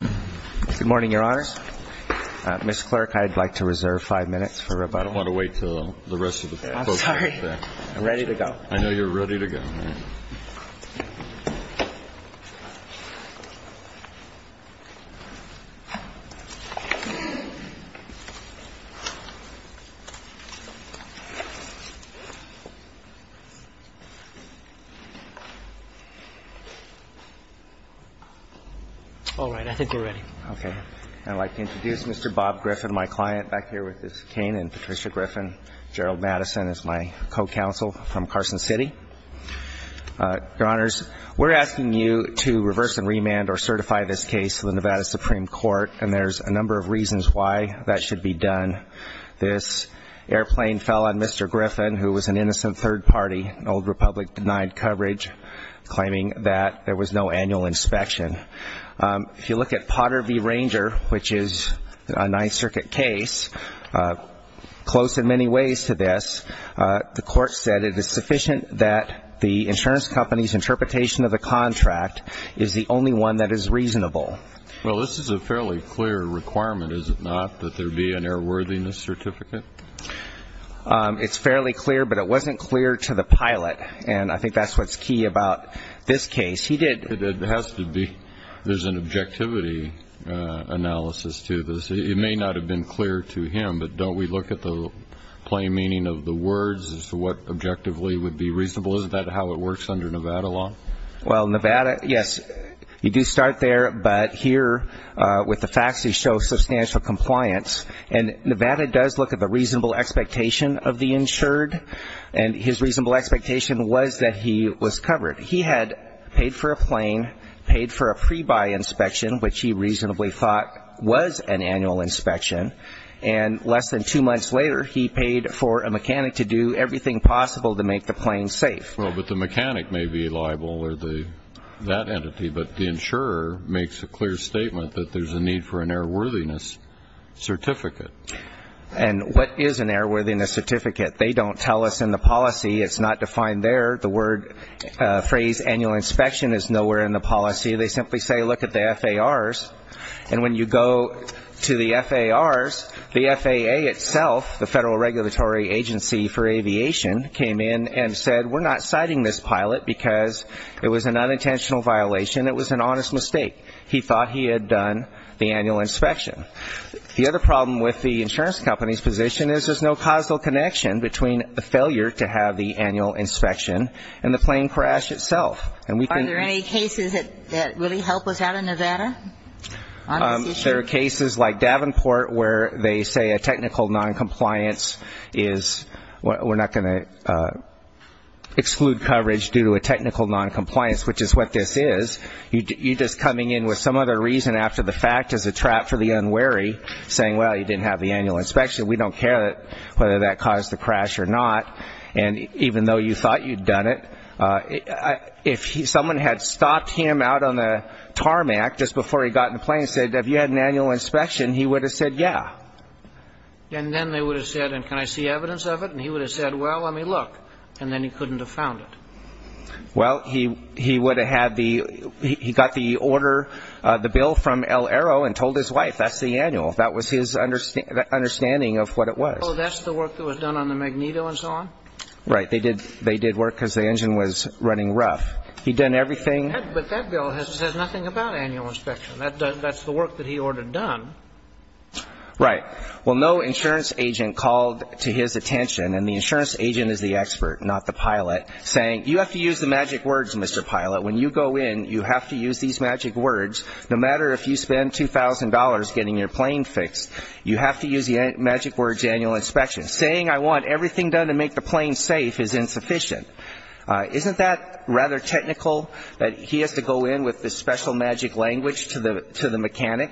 Good morning, Your Honors. Mr. Clerk, I'd like to reserve five minutes for rebuttal. I don't want to wait until the rest of the folks are back. I'm sorry. I'm ready to go. I know you're ready to go. All right. I think we're ready. Okay. I'd like to introduce Mr. Bob Griffin. My client back here with us, Kane and Patricia Griffin. Gerald Madison is my co-counsel from Carson City. Your Honors, we're asking you to reverse and remand or certify this case to the Nevada Supreme Court, and there's a number of reasons why that should be done. This airplane fell on Mr. Griffin, who was an innocent third party, Old Republic-denied coverage, claiming that there was no annual inspection. If you look at Potter v. Ranger, which is a Ninth Circuit case, close in many ways to this, the court said it is sufficient that the insurance company's interpretation of the contract is the only one that is reasonable. Well, this is a fairly clear requirement, is it not, that there be an airworthiness certificate? It's fairly clear, but it wasn't clear to the pilot, and I think that's what's key about this case. It has to be. There's an objectivity analysis to this. It may not have been clear to him, but don't we look at the plain meaning of the words as to what objectively would be reasonable? Isn't that how it works under Nevada law? Well, Nevada, yes, you do start there, but here with the facts, they show substantial compliance, and Nevada does look at the reasonable expectation of the insured, and his reasonable expectation was that he was covered. He had paid for a plane, paid for a pre-buy inspection, which he reasonably thought was an annual inspection, and less than two months later he paid for a mechanic to do everything possible to make the plane safe. Well, but the mechanic may be liable or that entity, but the insurer makes a clear statement that there's a need for an airworthiness certificate. And what is an airworthiness certificate? They don't tell us in the policy. It's not defined there. The phrase annual inspection is nowhere in the policy. They simply say look at the FARs, and when you go to the FARs, the FAA itself, the Federal Regulatory Agency for Aviation, came in and said we're not citing this pilot because it was an unintentional violation. It was an honest mistake. He thought he had done the annual inspection. The other problem with the insurance company's position is there's no causal connection between the failure to have the annual inspection and the plane crash itself. Are there any cases that really help us out of Nevada on this issue? There are cases like Davenport where they say a technical noncompliance is we're not going to exclude coverage due to a technical noncompliance, which is what this is. You're just coming in with some other reason after the fact as a trap for the unwary, saying, well, you didn't have the annual inspection. We don't care whether that caused the crash or not, and even though you thought you'd done it, if someone had stopped him out on the tarmac just before he got in the plane and said, have you had an annual inspection, he would have said yeah. And then they would have said, and can I see evidence of it? And he would have said, well, let me look, and then he couldn't have found it. Well, he got the order, the bill from El Aero and told his wife that's the annual. That was his understanding of what it was. Oh, that's the work that was done on the Magneto and so on? Right. They did work because the engine was running rough. He'd done everything. But that bill says nothing about annual inspection. That's the work that he ordered done. Right. Well, no insurance agent called to his attention, and the insurance agent is the expert, not the pilot, saying you have to use the magic words, Mr. Pilot. When you go in, you have to use these magic words. No matter if you spend $2,000 getting your plane fixed, you have to use the magic words annual inspection. Saying I want everything done to make the plane safe is insufficient. Isn't that rather technical, that he has to go in with this special magic language to the mechanic?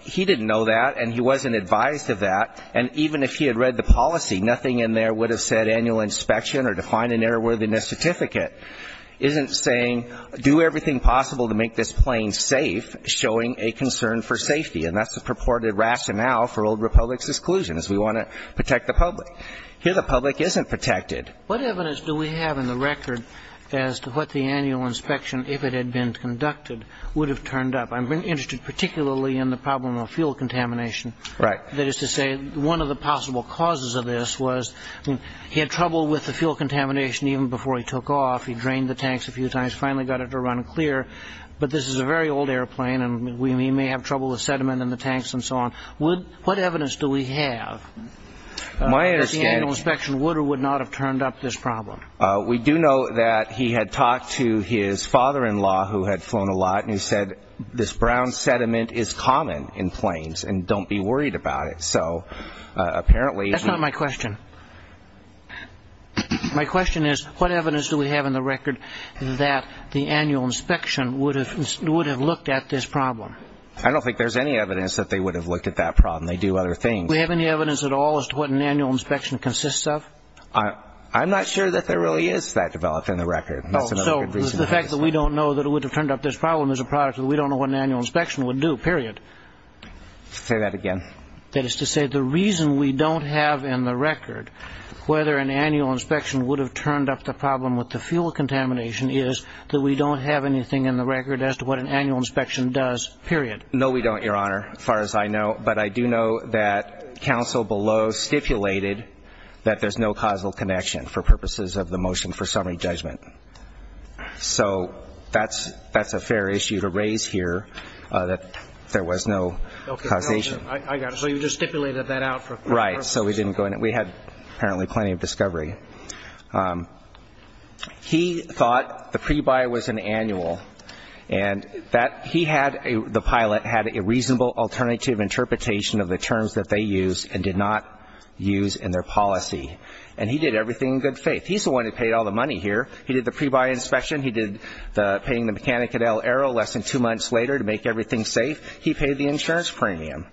He didn't know that, and he wasn't advised of that. And even if he had read the policy, nothing in there would have said annual inspection or defined an airworthiness certificate isn't saying do everything possible to make this plane safe, showing a concern for safety. And that's the purported rationale for Old Republic's exclusion is we want to protect the public. Here the public isn't protected. What evidence do we have in the record as to what the annual inspection, if it had been conducted, would have turned up? I'm interested particularly in the problem of fuel contamination. Right. That is to say one of the possible causes of this was he had trouble with the fuel contamination even before he took off. He drained the tanks a few times, finally got it to run clear. But this is a very old airplane, and we may have trouble with sediment in the tanks and so on. What evidence do we have that the annual inspection would or would not have turned up this problem? We do know that he had talked to his father-in-law, who had flown a lot, and he said this brown sediment is common in planes and don't be worried about it. That's not my question. My question is what evidence do we have in the record that the annual inspection would have looked at this problem? I don't think there's any evidence that they would have looked at that problem. They do other things. Do we have any evidence at all as to what an annual inspection consists of? The fact that we don't know that it would have turned up this problem is a product that we don't know what an annual inspection would do, period. Say that again. That is to say the reason we don't have in the record whether an annual inspection would have turned up the problem with the fuel contamination is that we don't have anything in the record as to what an annual inspection does, period. No, we don't, Your Honor, as far as I know. But I do know that counsel below stipulated that there's no causal connection for purposes of the motion for summary judgment. So that's a fair issue to raise here, that there was no causation. I got it. So you just stipulated that out for purposes. So we had apparently plenty of discovery. He thought the pre-buy was an annual. And he had, the pilot, had a reasonable alternative interpretation of the terms that they used and did not use in their policy. And he did everything in good faith. He's the one who paid all the money here. He did the pre-buy inspection. He did paying the mechanic at El Aero less than two months later to make everything safe. He paid the insurance premium.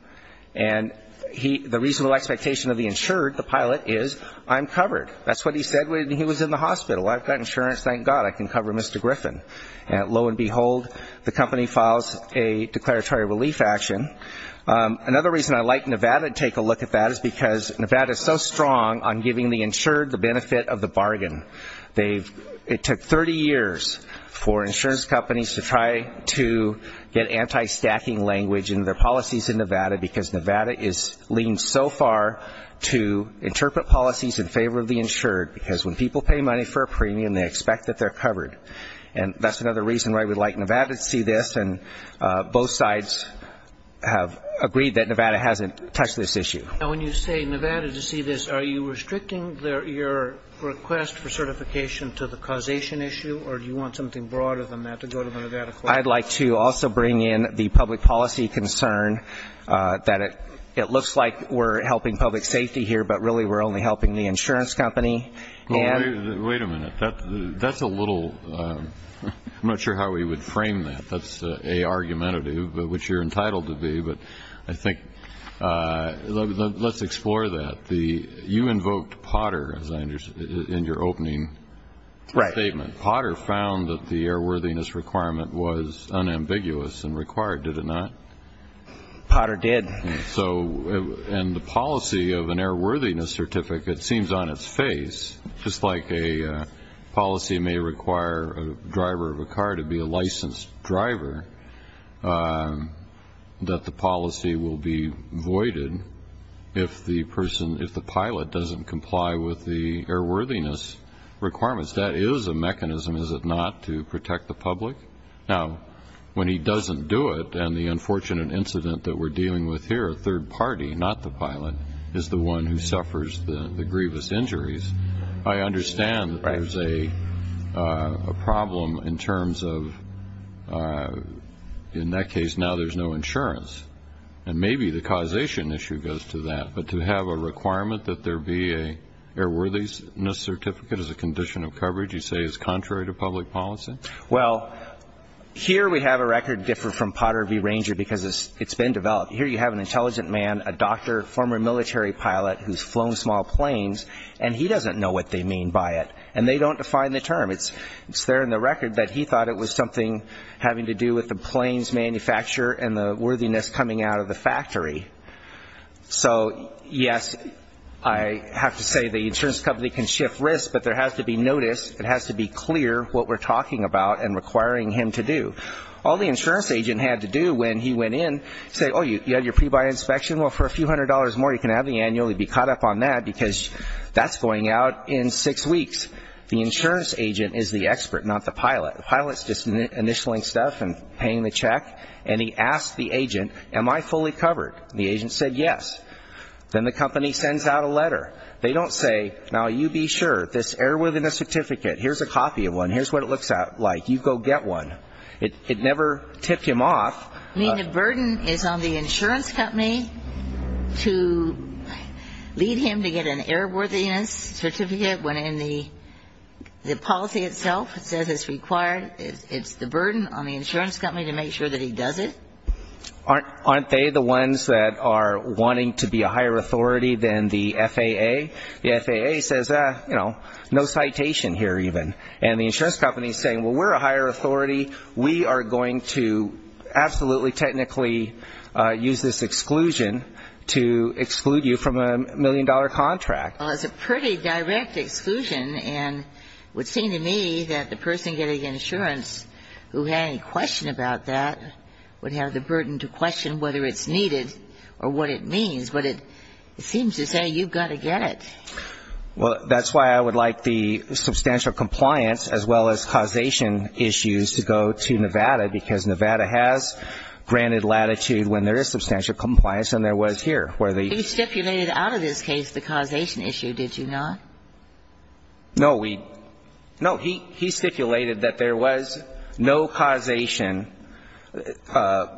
And the reasonable expectation of the insured, the pilot, is I'm covered. That's what he said when he was in the hospital. I've got insurance. Thank God I can cover Mr. Griffin. And lo and behold, the company files a declaratory relief action. Another reason I like Nevada to take a look at that is because Nevada is so strong on giving the insured the benefit of the bargain. It took 30 years for insurance companies to try to get anti-stacking language in their policies in Nevada, because Nevada is leaning so far to interpret policies in favor of the insured, because when people pay money for a premium, they expect that they're covered. And that's another reason why we like Nevada to see this, and both sides have agreed that Nevada hasn't touched this issue. Now, when you say Nevada to see this, are you restricting your request for certification to the causation issue, or do you want something broader than that to go to the Nevada court? I'd like to also bring in the public policy concern that it looks like we're helping public safety here, but really we're only helping the insurance company. Wait a minute. That's a little ‑‑ I'm not sure how we would frame that. That's a argumentative, which you're entitled to be, but I think let's explore that. You invoked Potter in your opening statement. And Potter found that the airworthiness requirement was unambiguous and required, did it not? Potter did. And the policy of an airworthiness certificate seems on its face, just like a policy may require a driver of a car to be a licensed driver, that the policy will be voided if the pilot doesn't comply with the airworthiness requirements. That is a mechanism, is it not, to protect the public? Now, when he doesn't do it, and the unfortunate incident that we're dealing with here, a third party, not the pilot, is the one who suffers the grievous injuries, I understand there's a problem in terms of, in that case, now there's no insurance. And maybe the causation issue goes to that. But to have a requirement that there be an airworthiness certificate as a condition of coverage, you say is contrary to public policy? Well, here we have a record different from Potter v. Ranger because it's been developed. Here you have an intelligent man, a doctor, former military pilot, who's flown small planes, and he doesn't know what they mean by it. And they don't define the term. It's there in the record that he thought it was something having to do with the planes manufacturer and the worthiness coming out of the factory. So, yes, I have to say the insurance company can shift risks, but there has to be notice, it has to be clear what we're talking about and requiring him to do. All the insurance agent had to do when he went in, say, oh, you have your pre-buy inspection? Well, for a few hundred dollars more you can have the annual, he'd be caught up on that, because that's going out in six weeks. The insurance agent is the expert, not the pilot. The pilot's just initialing stuff and paying the check. And he asked the agent, am I fully covered? The agent said yes. Then the company sends out a letter. They don't say, now you be sure, this airworthiness certificate, here's a copy of one, here's what it looks like, you go get one. It never tipped him off. I mean, the burden is on the insurance company to lead him to get an airworthiness certificate when the policy itself says it's required. It's the burden on the insurance company to make sure that he does it. Aren't they the ones that are wanting to be a higher authority than the FAA? The FAA says, you know, no citation here even. And the insurance company is saying, well, we're a higher authority. We are going to absolutely technically use this exclusion to exclude you from a million-dollar contract. Well, it's a pretty direct exclusion. And it would seem to me that the person getting insurance who had any question about that would have the burden to question whether it's needed or what it means. But it seems to say you've got to get it. Well, that's why I would like the substantial compliance as well as causation issues to go to Nevada, because Nevada has granted latitude when there is substantial compliance, and there was here. You stipulated out of this case the causation issue, did you not? No. No, he stipulated that there was no causation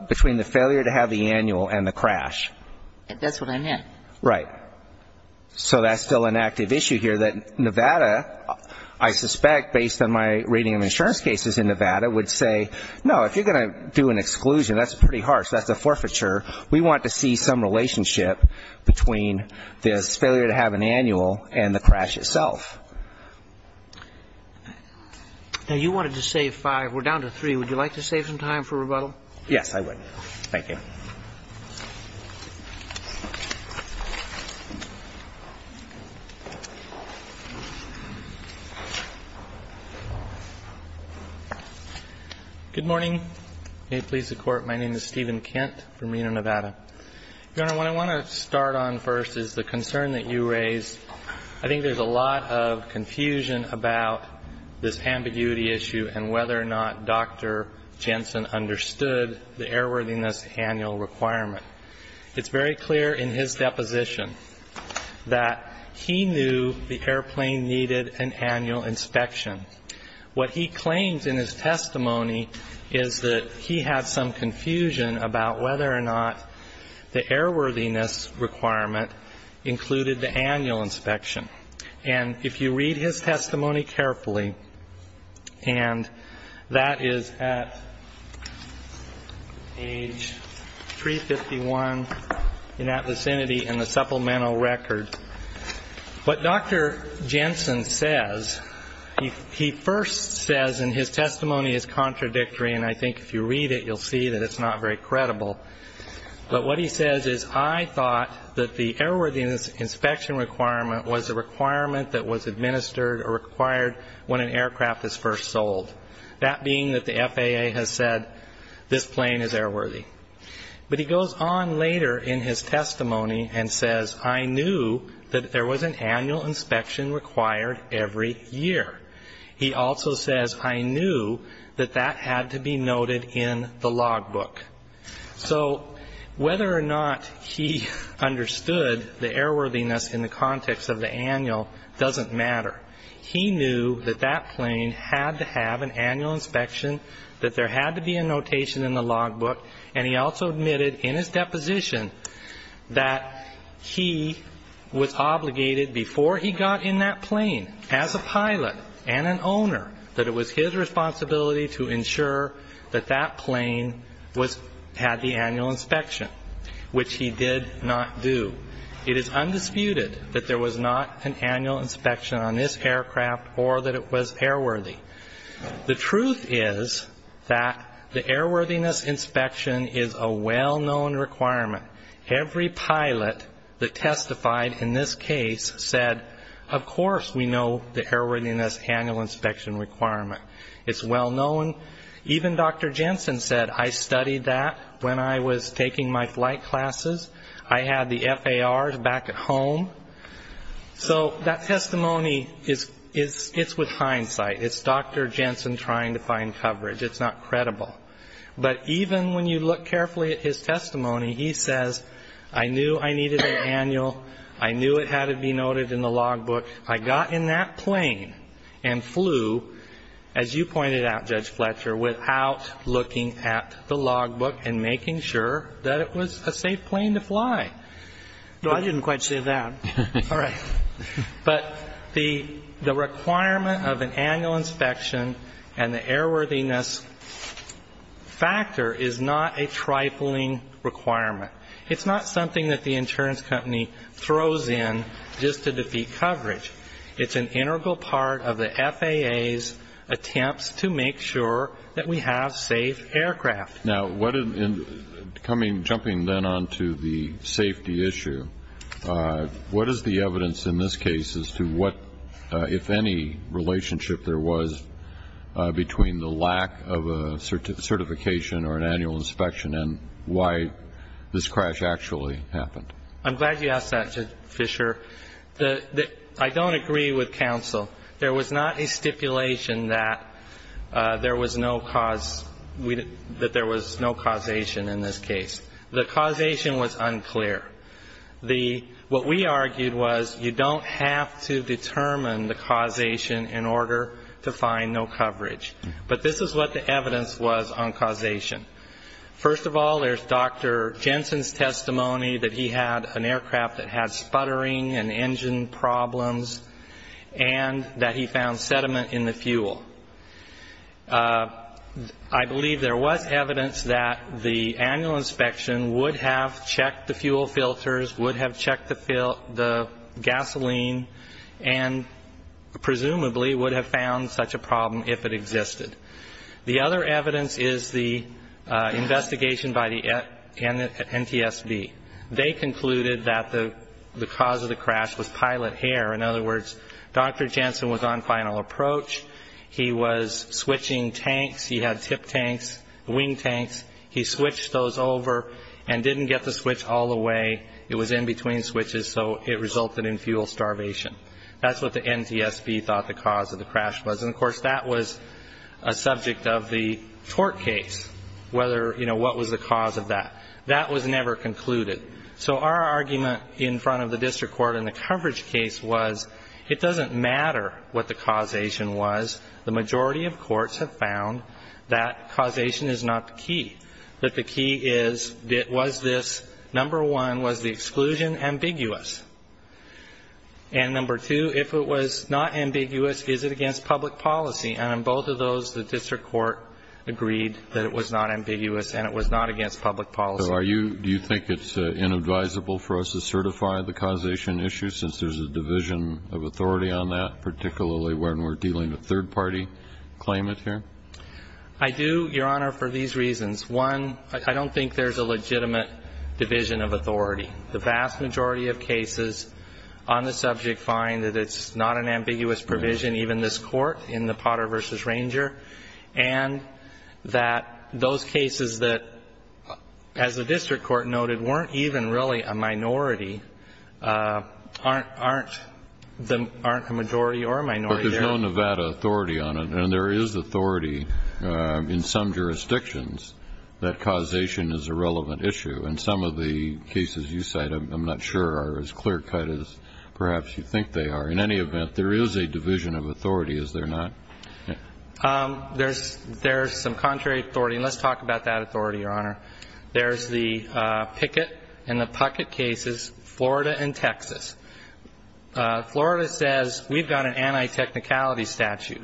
between the failure to have the annual and the crash. That's what I meant. Right. So that's still an active issue here that Nevada, I suspect, based on my reading of insurance cases in Nevada, would say, no, if you're going to do an exclusion, that's pretty harsh. That's a forfeiture. We want to see some relationship between this failure to have an annual and the crash itself. Now, you wanted to save five. We're down to three. Would you like to save some time for rebuttal? Yes, I would. Good morning. May it please the Court, my name is Stephen Kent from Reno, Nevada. Your Honor, what I want to start on first is the concern that you raised. I think there's a lot of confusion about this ambiguity issue and whether or not Dr. Jensen understood the airworthiness annual requirement. It's very clear in his deposition that he knew the airplane needed an annual inspection. What he claims in his testimony is that he had some confusion about whether or not the airworthiness requirement included the annual inspection. And if you read his testimony carefully, and that is at age 351 in that vicinity in the supplemental record, what Dr. Jensen says, he first says, and his testimony is contradictory, and I think if you read it, you'll see that it's not very credible. But what he says is, I thought that the airworthiness inspection requirement was a requirement that was administered or required when an aircraft is first sold, that being that the FAA has said this plane is airworthy. But he goes on later in his testimony and says, I knew that there was an annual inspection required every year. He also says, I knew that that had to be noted in the logbook. So whether or not he understood the airworthiness in the context of the annual doesn't matter. He knew that that plane had to have an annual inspection, that there had to be a notation in the logbook, and he also admitted in his deposition that he was obligated, before he got in that plane as a pilot and an owner, that it was his responsibility to ensure that that plane had the annual inspection, which he did not do. It is undisputed that there was not an annual inspection on this aircraft or that it was airworthy. The truth is that the airworthiness inspection is a well-known requirement. Every pilot that testified in this case said, of course we know the airworthiness annual inspection requirement. It's well-known. Even Dr. Jensen said, I studied that when I was taking my flight classes. I had the FARs back at home. So that testimony, it's with hindsight. It's Dr. Jensen trying to find coverage. It's not credible. But even when you look carefully at his testimony, he says, I knew I needed an annual. I knew it had to be noted in the logbook. I got in that plane and flew, as you pointed out, Judge Fletcher, without looking at the logbook and making sure that it was a safe plane to fly. Well, I didn't quite say that. All right. But the requirement of an annual inspection and the airworthiness factor is not a trifling requirement. It's not something that the insurance company throws in just to defeat coverage. It's an integral part of the FAA's attempts to make sure that we have safe aircraft. Now, jumping then on to the safety issue, what is the evidence in this case as to what, if any, relationship there was between the lack of a certification or an annual inspection and why this crash actually happened? I'm glad you asked that, Fisher. I don't agree with counsel. There was not a stipulation that there was no causation in this case. The causation was unclear. What we argued was you don't have to determine the causation in order to find no coverage. But this is what the evidence was on causation. First of all, there's Dr. Jensen's testimony that he had an aircraft that had sputtering and engine problems. And that he found sediment in the fuel. I believe there was evidence that the annual inspection would have checked the fuel filters, would have checked the gasoline, and presumably would have found such a problem if it existed. The other evidence is the investigation by the NTSB. They concluded that the cause of the crash was pilot hair. In other words, Dr. Jensen was on final approach. He was switching tanks. He had tip tanks, wing tanks. He switched those over and didn't get the switch all the way. It was in between switches, so it resulted in fuel starvation. That's what the NTSB thought the cause of the crash was. And, of course, that was a subject of the tort case, what was the cause of that. That was never concluded. So our argument in front of the district court in the coverage case was it doesn't matter what the causation was. The majority of courts have found that causation is not the key. That the key is, was this, number one, was the exclusion ambiguous? And, number two, if it was not ambiguous, is it against public policy? And in both of those, the district court agreed that it was not ambiguous and it was not against public policy. So do you think it's inadvisable for us to certify the causation issue since there's a division of authority on that, particularly when we're dealing with third-party claimant here? I do, Your Honor, for these reasons. One, I don't think there's a legitimate division of authority. The vast majority of cases on the subject find that it's not an ambiguous provision, even this court in the Potter v. Ranger, and that those cases that, as the district court noted, weren't even really a minority aren't a majority or a minority. But there's no Nevada authority on it, and there is authority in some jurisdictions that causation is a relevant issue. And some of the cases you cite, I'm not sure, are as clear-cut as perhaps you think they are. In any event, there is a division of authority, is there not? There's some contrary authority, and let's talk about that authority, Your Honor. There's the Pickett and the Puckett cases, Florida and Texas. Florida says, we've got an anti-technicality statute.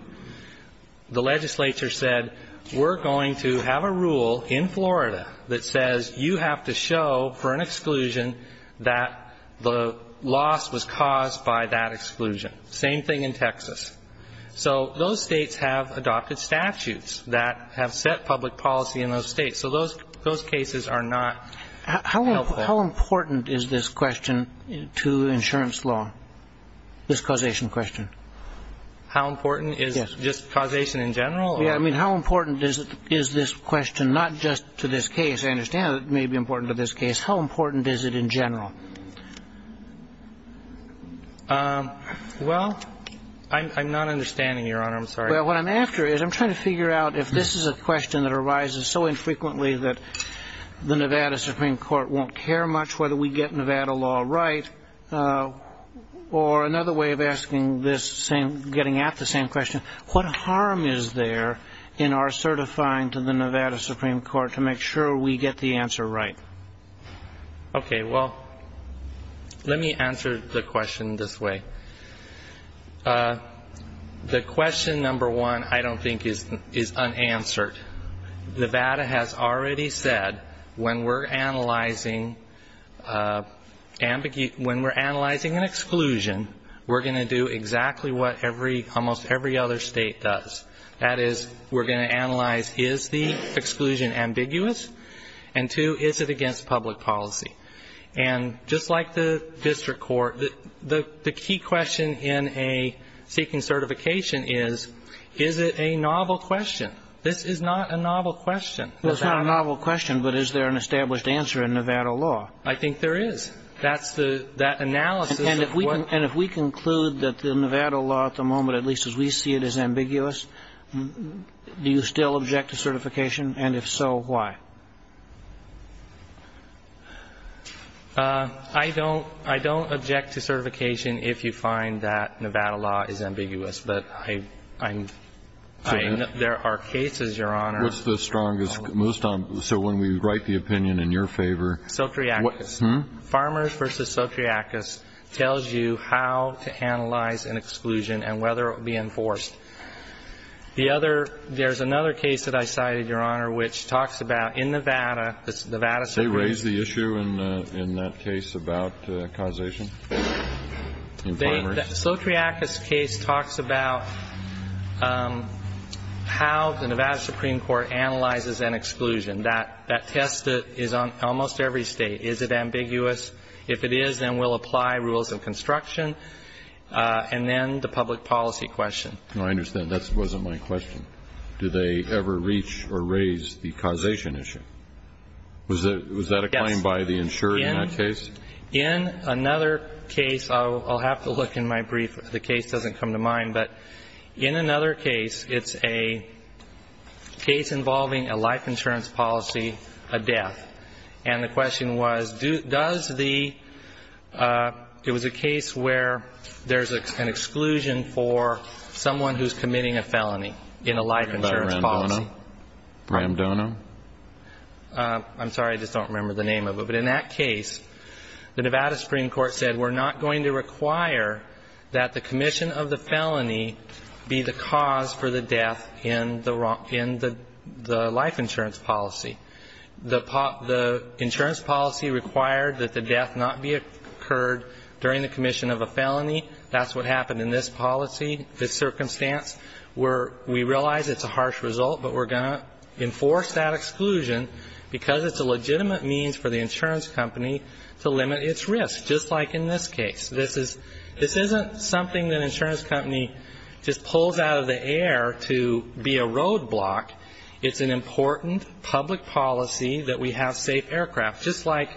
The legislature said, we're going to have a rule in Florida that says you have to show for an exclusion that the loss was caused by that exclusion. Same thing in Texas. So those states have adopted statutes that have set public policy in those states. So those cases are not helpful. How important is this question to insurance law, this causation question? How important is just causation in general? Yes. I mean, how important is this question not just to this case? I understand it may be important to this case. How important is it in general? Well, I'm not understanding, Your Honor. I'm sorry. Well, what I'm after is I'm trying to figure out if this is a question that arises so infrequently that the Nevada Supreme Court won't care much whether we get Nevada law right or another way of asking this, getting at the same question, what harm is there in our certifying to the Nevada Supreme Court to make sure we get the answer right? Okay. Well, let me answer the question this way. The question, number one, I don't think is unanswered. Nevada has already said when we're analyzing an exclusion, we're going to do exactly what almost every other state does. That is, we're going to analyze, is the exclusion ambiguous? And two, is it against public policy? And just like the district court, the key question in a seeking certification is, is it a novel question? This is not a novel question. Well, it's not a novel question, but is there an established answer in Nevada law? I think there is. That's the analysis of what ---- And if we conclude that the Nevada law at the moment, at least as we see it, is ambiguous, do you still object to certification? And if so, why? I don't object to certification if you find that Nevada law is ambiguous. But there are cases, Your Honor ---- What's the strongest? So when we write the opinion in your favor ---- Sotriacus. Farmers v. Sotriacus tells you how to analyze an exclusion and whether it would be enforced. The other, there's another case that I cited, Your Honor, which talks about in Nevada ---- They raise the issue in that case about causation? In farmers? Sotriacus case talks about how the Nevada Supreme Court analyzes an exclusion. That test is on almost every state. Is it ambiguous? If it is, then we'll apply rules of construction. And then the public policy question. No, I understand. That wasn't my question. Do they ever reach or raise the causation issue? Was that a claim by the insured in that case? In another case, I'll have to look in my brief. The case doesn't come to mind. But in another case, it's a case involving a life insurance policy, a death. And the question was, does the ---- It was a case where there's an exclusion for someone who's committing a felony in a life insurance policy. Ramdano? Ramdano? I'm sorry. I just don't remember the name of it. But in that case, the Nevada Supreme Court said, we're not going to require that the commission of the felony be the cause for the death in the life insurance policy. The insurance policy required that the death not be occurred during the commission of a felony. That's what happened in this policy, this circumstance. We realize it's a harsh result, but we're going to enforce that exclusion because it's a legitimate means for the insurance company to limit its risk, just like in this case. This isn't something that an insurance company just pulls out of the air to be a roadblock. It's an important public policy that we have safe aircraft, just like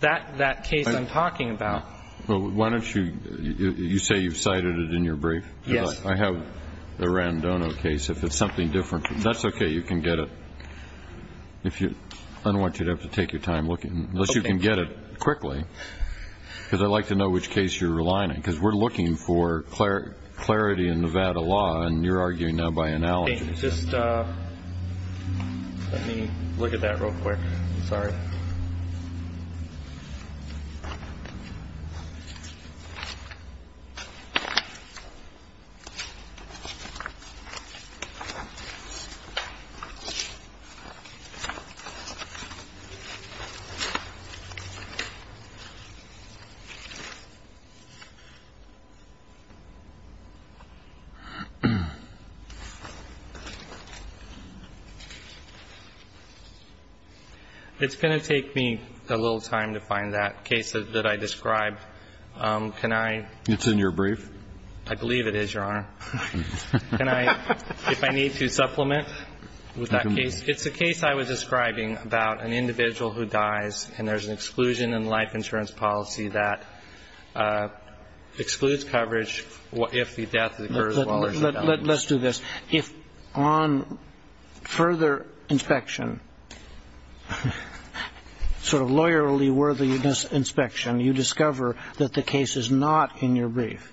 that case I'm talking about. Well, why don't you ---- You say you've cited it in your brief? Yes. I have the Ramdano case. If it's something different, that's okay. You can get it. I don't want you to have to take your time looking. Unless you can get it quickly because I'd like to know which case you're relying on because we're looking for clarity in Nevada law, and you're arguing that by analogy. Just let me look at that real quick. Sorry. It's going to take me a little time to find that case that I described. Can I ---- It's in your brief. I believe it is, Your Honor. Can I, if I need to supplement with that case? It's a case I was describing about an individual who dies, and there's an exclusion in life insurance policy that excludes coverage if the death occurs while he's dead. Let's do this. If on further inspection, sort of lawyerly-worthiness inspection, you discover that the case is not in your brief,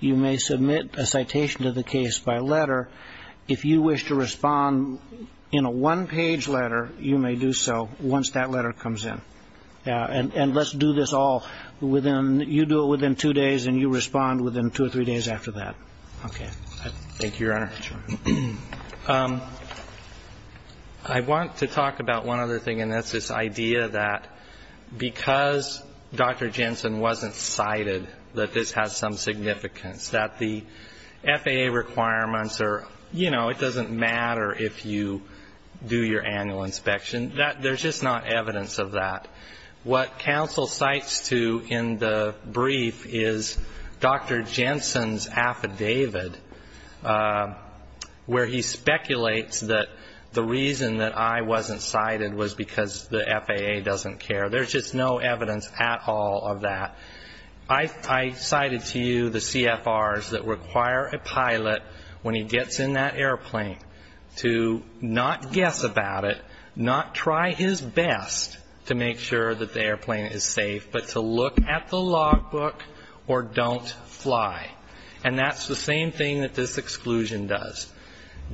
you may submit a citation to the case by letter. If you wish to respond in a one-page letter, you may do so once that letter comes in. And let's do this all within ---- you do it within two days, and you respond within two or three days after that. Okay. Thank you, Your Honor. Sure. I want to talk about one other thing, and that's this idea that because Dr. Jensen wasn't cited that this has some significance, that the FAA requirements are, you know, it doesn't matter if you do your annual inspection. There's just not evidence of that. What counsel cites to in the brief is Dr. Jensen's affidavit, where he speculates that the reason that I wasn't cited was because the FAA doesn't care. There's just no evidence at all of that. I cited to you the CFRs that require a pilot, when he gets in that airplane, to not guess about it, not try his best to make sure that the airplane is safe, but to look at the logbook or don't fly. And that's the same thing that this exclusion does.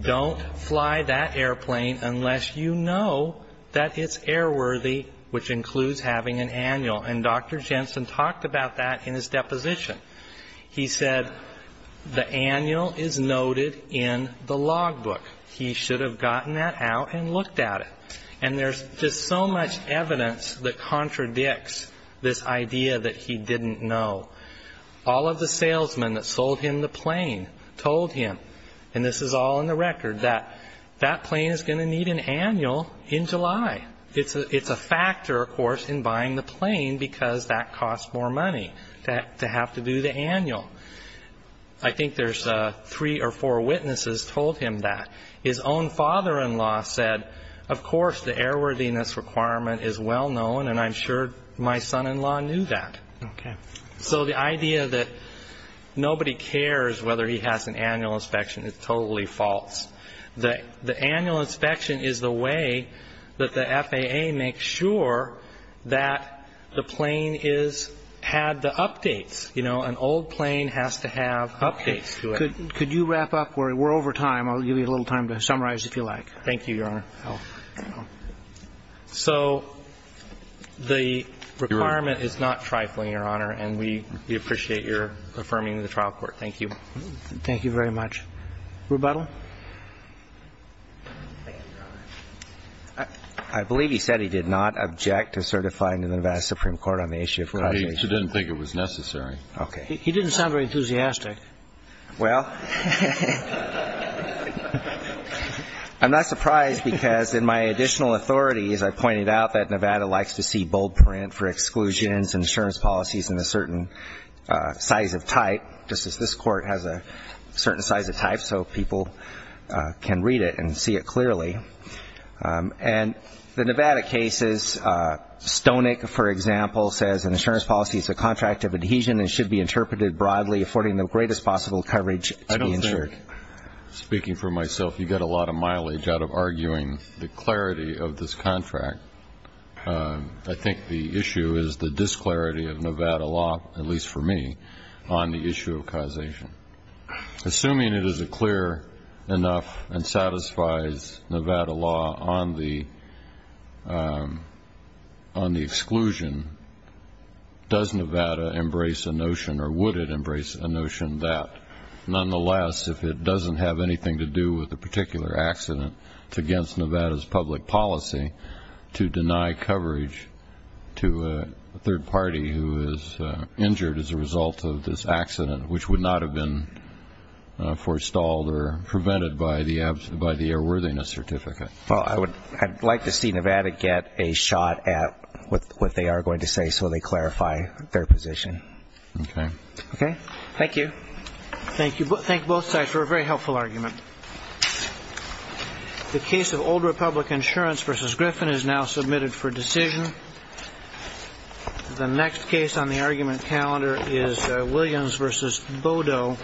Don't fly that airplane unless you know that it's airworthy, which includes having an annual. And Dr. Jensen talked about that in his deposition. He said the annual is noted in the logbook. He should have gotten that out and looked at it. And there's just so much evidence that contradicts this idea that he didn't know. All of the salesmen that sold him the plane told him, and this is all in the record, that that plane is going to need an annual in July. It's a factor, of course, in buying the plane because that costs more money to have to do the annual. I think there's three or four witnesses told him that. His own father-in-law said, of course, the airworthiness requirement is well known, and I'm sure my son-in-law knew that. So the idea that nobody cares whether he has an annual inspection is totally false. The annual inspection is the way that the FAA makes sure that the plane has the updates. You know, an old plane has to have updates to it. Could you wrap up? We're over time. I'll give you a little time to summarize if you like. Thank you, Your Honor. So the requirement is not trifling, Your Honor, and we appreciate your affirming the trial court. Thank you. Thank you very much. Rebuttal? I believe he said he did not object to certifying to the Nevada Supreme Court on the issue of causation. I actually didn't think it was necessary. He didn't sound very enthusiastic. Well, I'm not surprised because in my additional authorities, I pointed out that Nevada likes to see bold print for exclusions and insurance policies in a certain size of type, just as this court has a certain size of type so people can read it and see it clearly. And the Nevada cases, Stoenig, for example, says an insurance policy is a contract of adhesion and should be interpreted broadly, affording the greatest possible coverage to be insured. I don't think, speaking for myself, you get a lot of mileage out of arguing the clarity of this contract. I think the issue is the disclarity of Nevada law, at least for me, on the issue of causation. Assuming it is clear enough and satisfies Nevada law on the exclusion, does Nevada embrace a notion or would it embrace a notion that, nonetheless, if it doesn't have anything to do with a particular accident, it's against Nevada's public policy to deny coverage to a third party who is injured as a result of this accident, which would not have been forestalled or prevented by the airworthiness certificate? Well, I'd like to see Nevada get a shot at what they are going to say so they clarify their position. Okay. Okay? Thank you. Thank you both sides for a very helpful argument. The case of Old Republic Insurance v. Griffin is now submitted for decision. The next case on the argument calendar is Williams v. Bodo.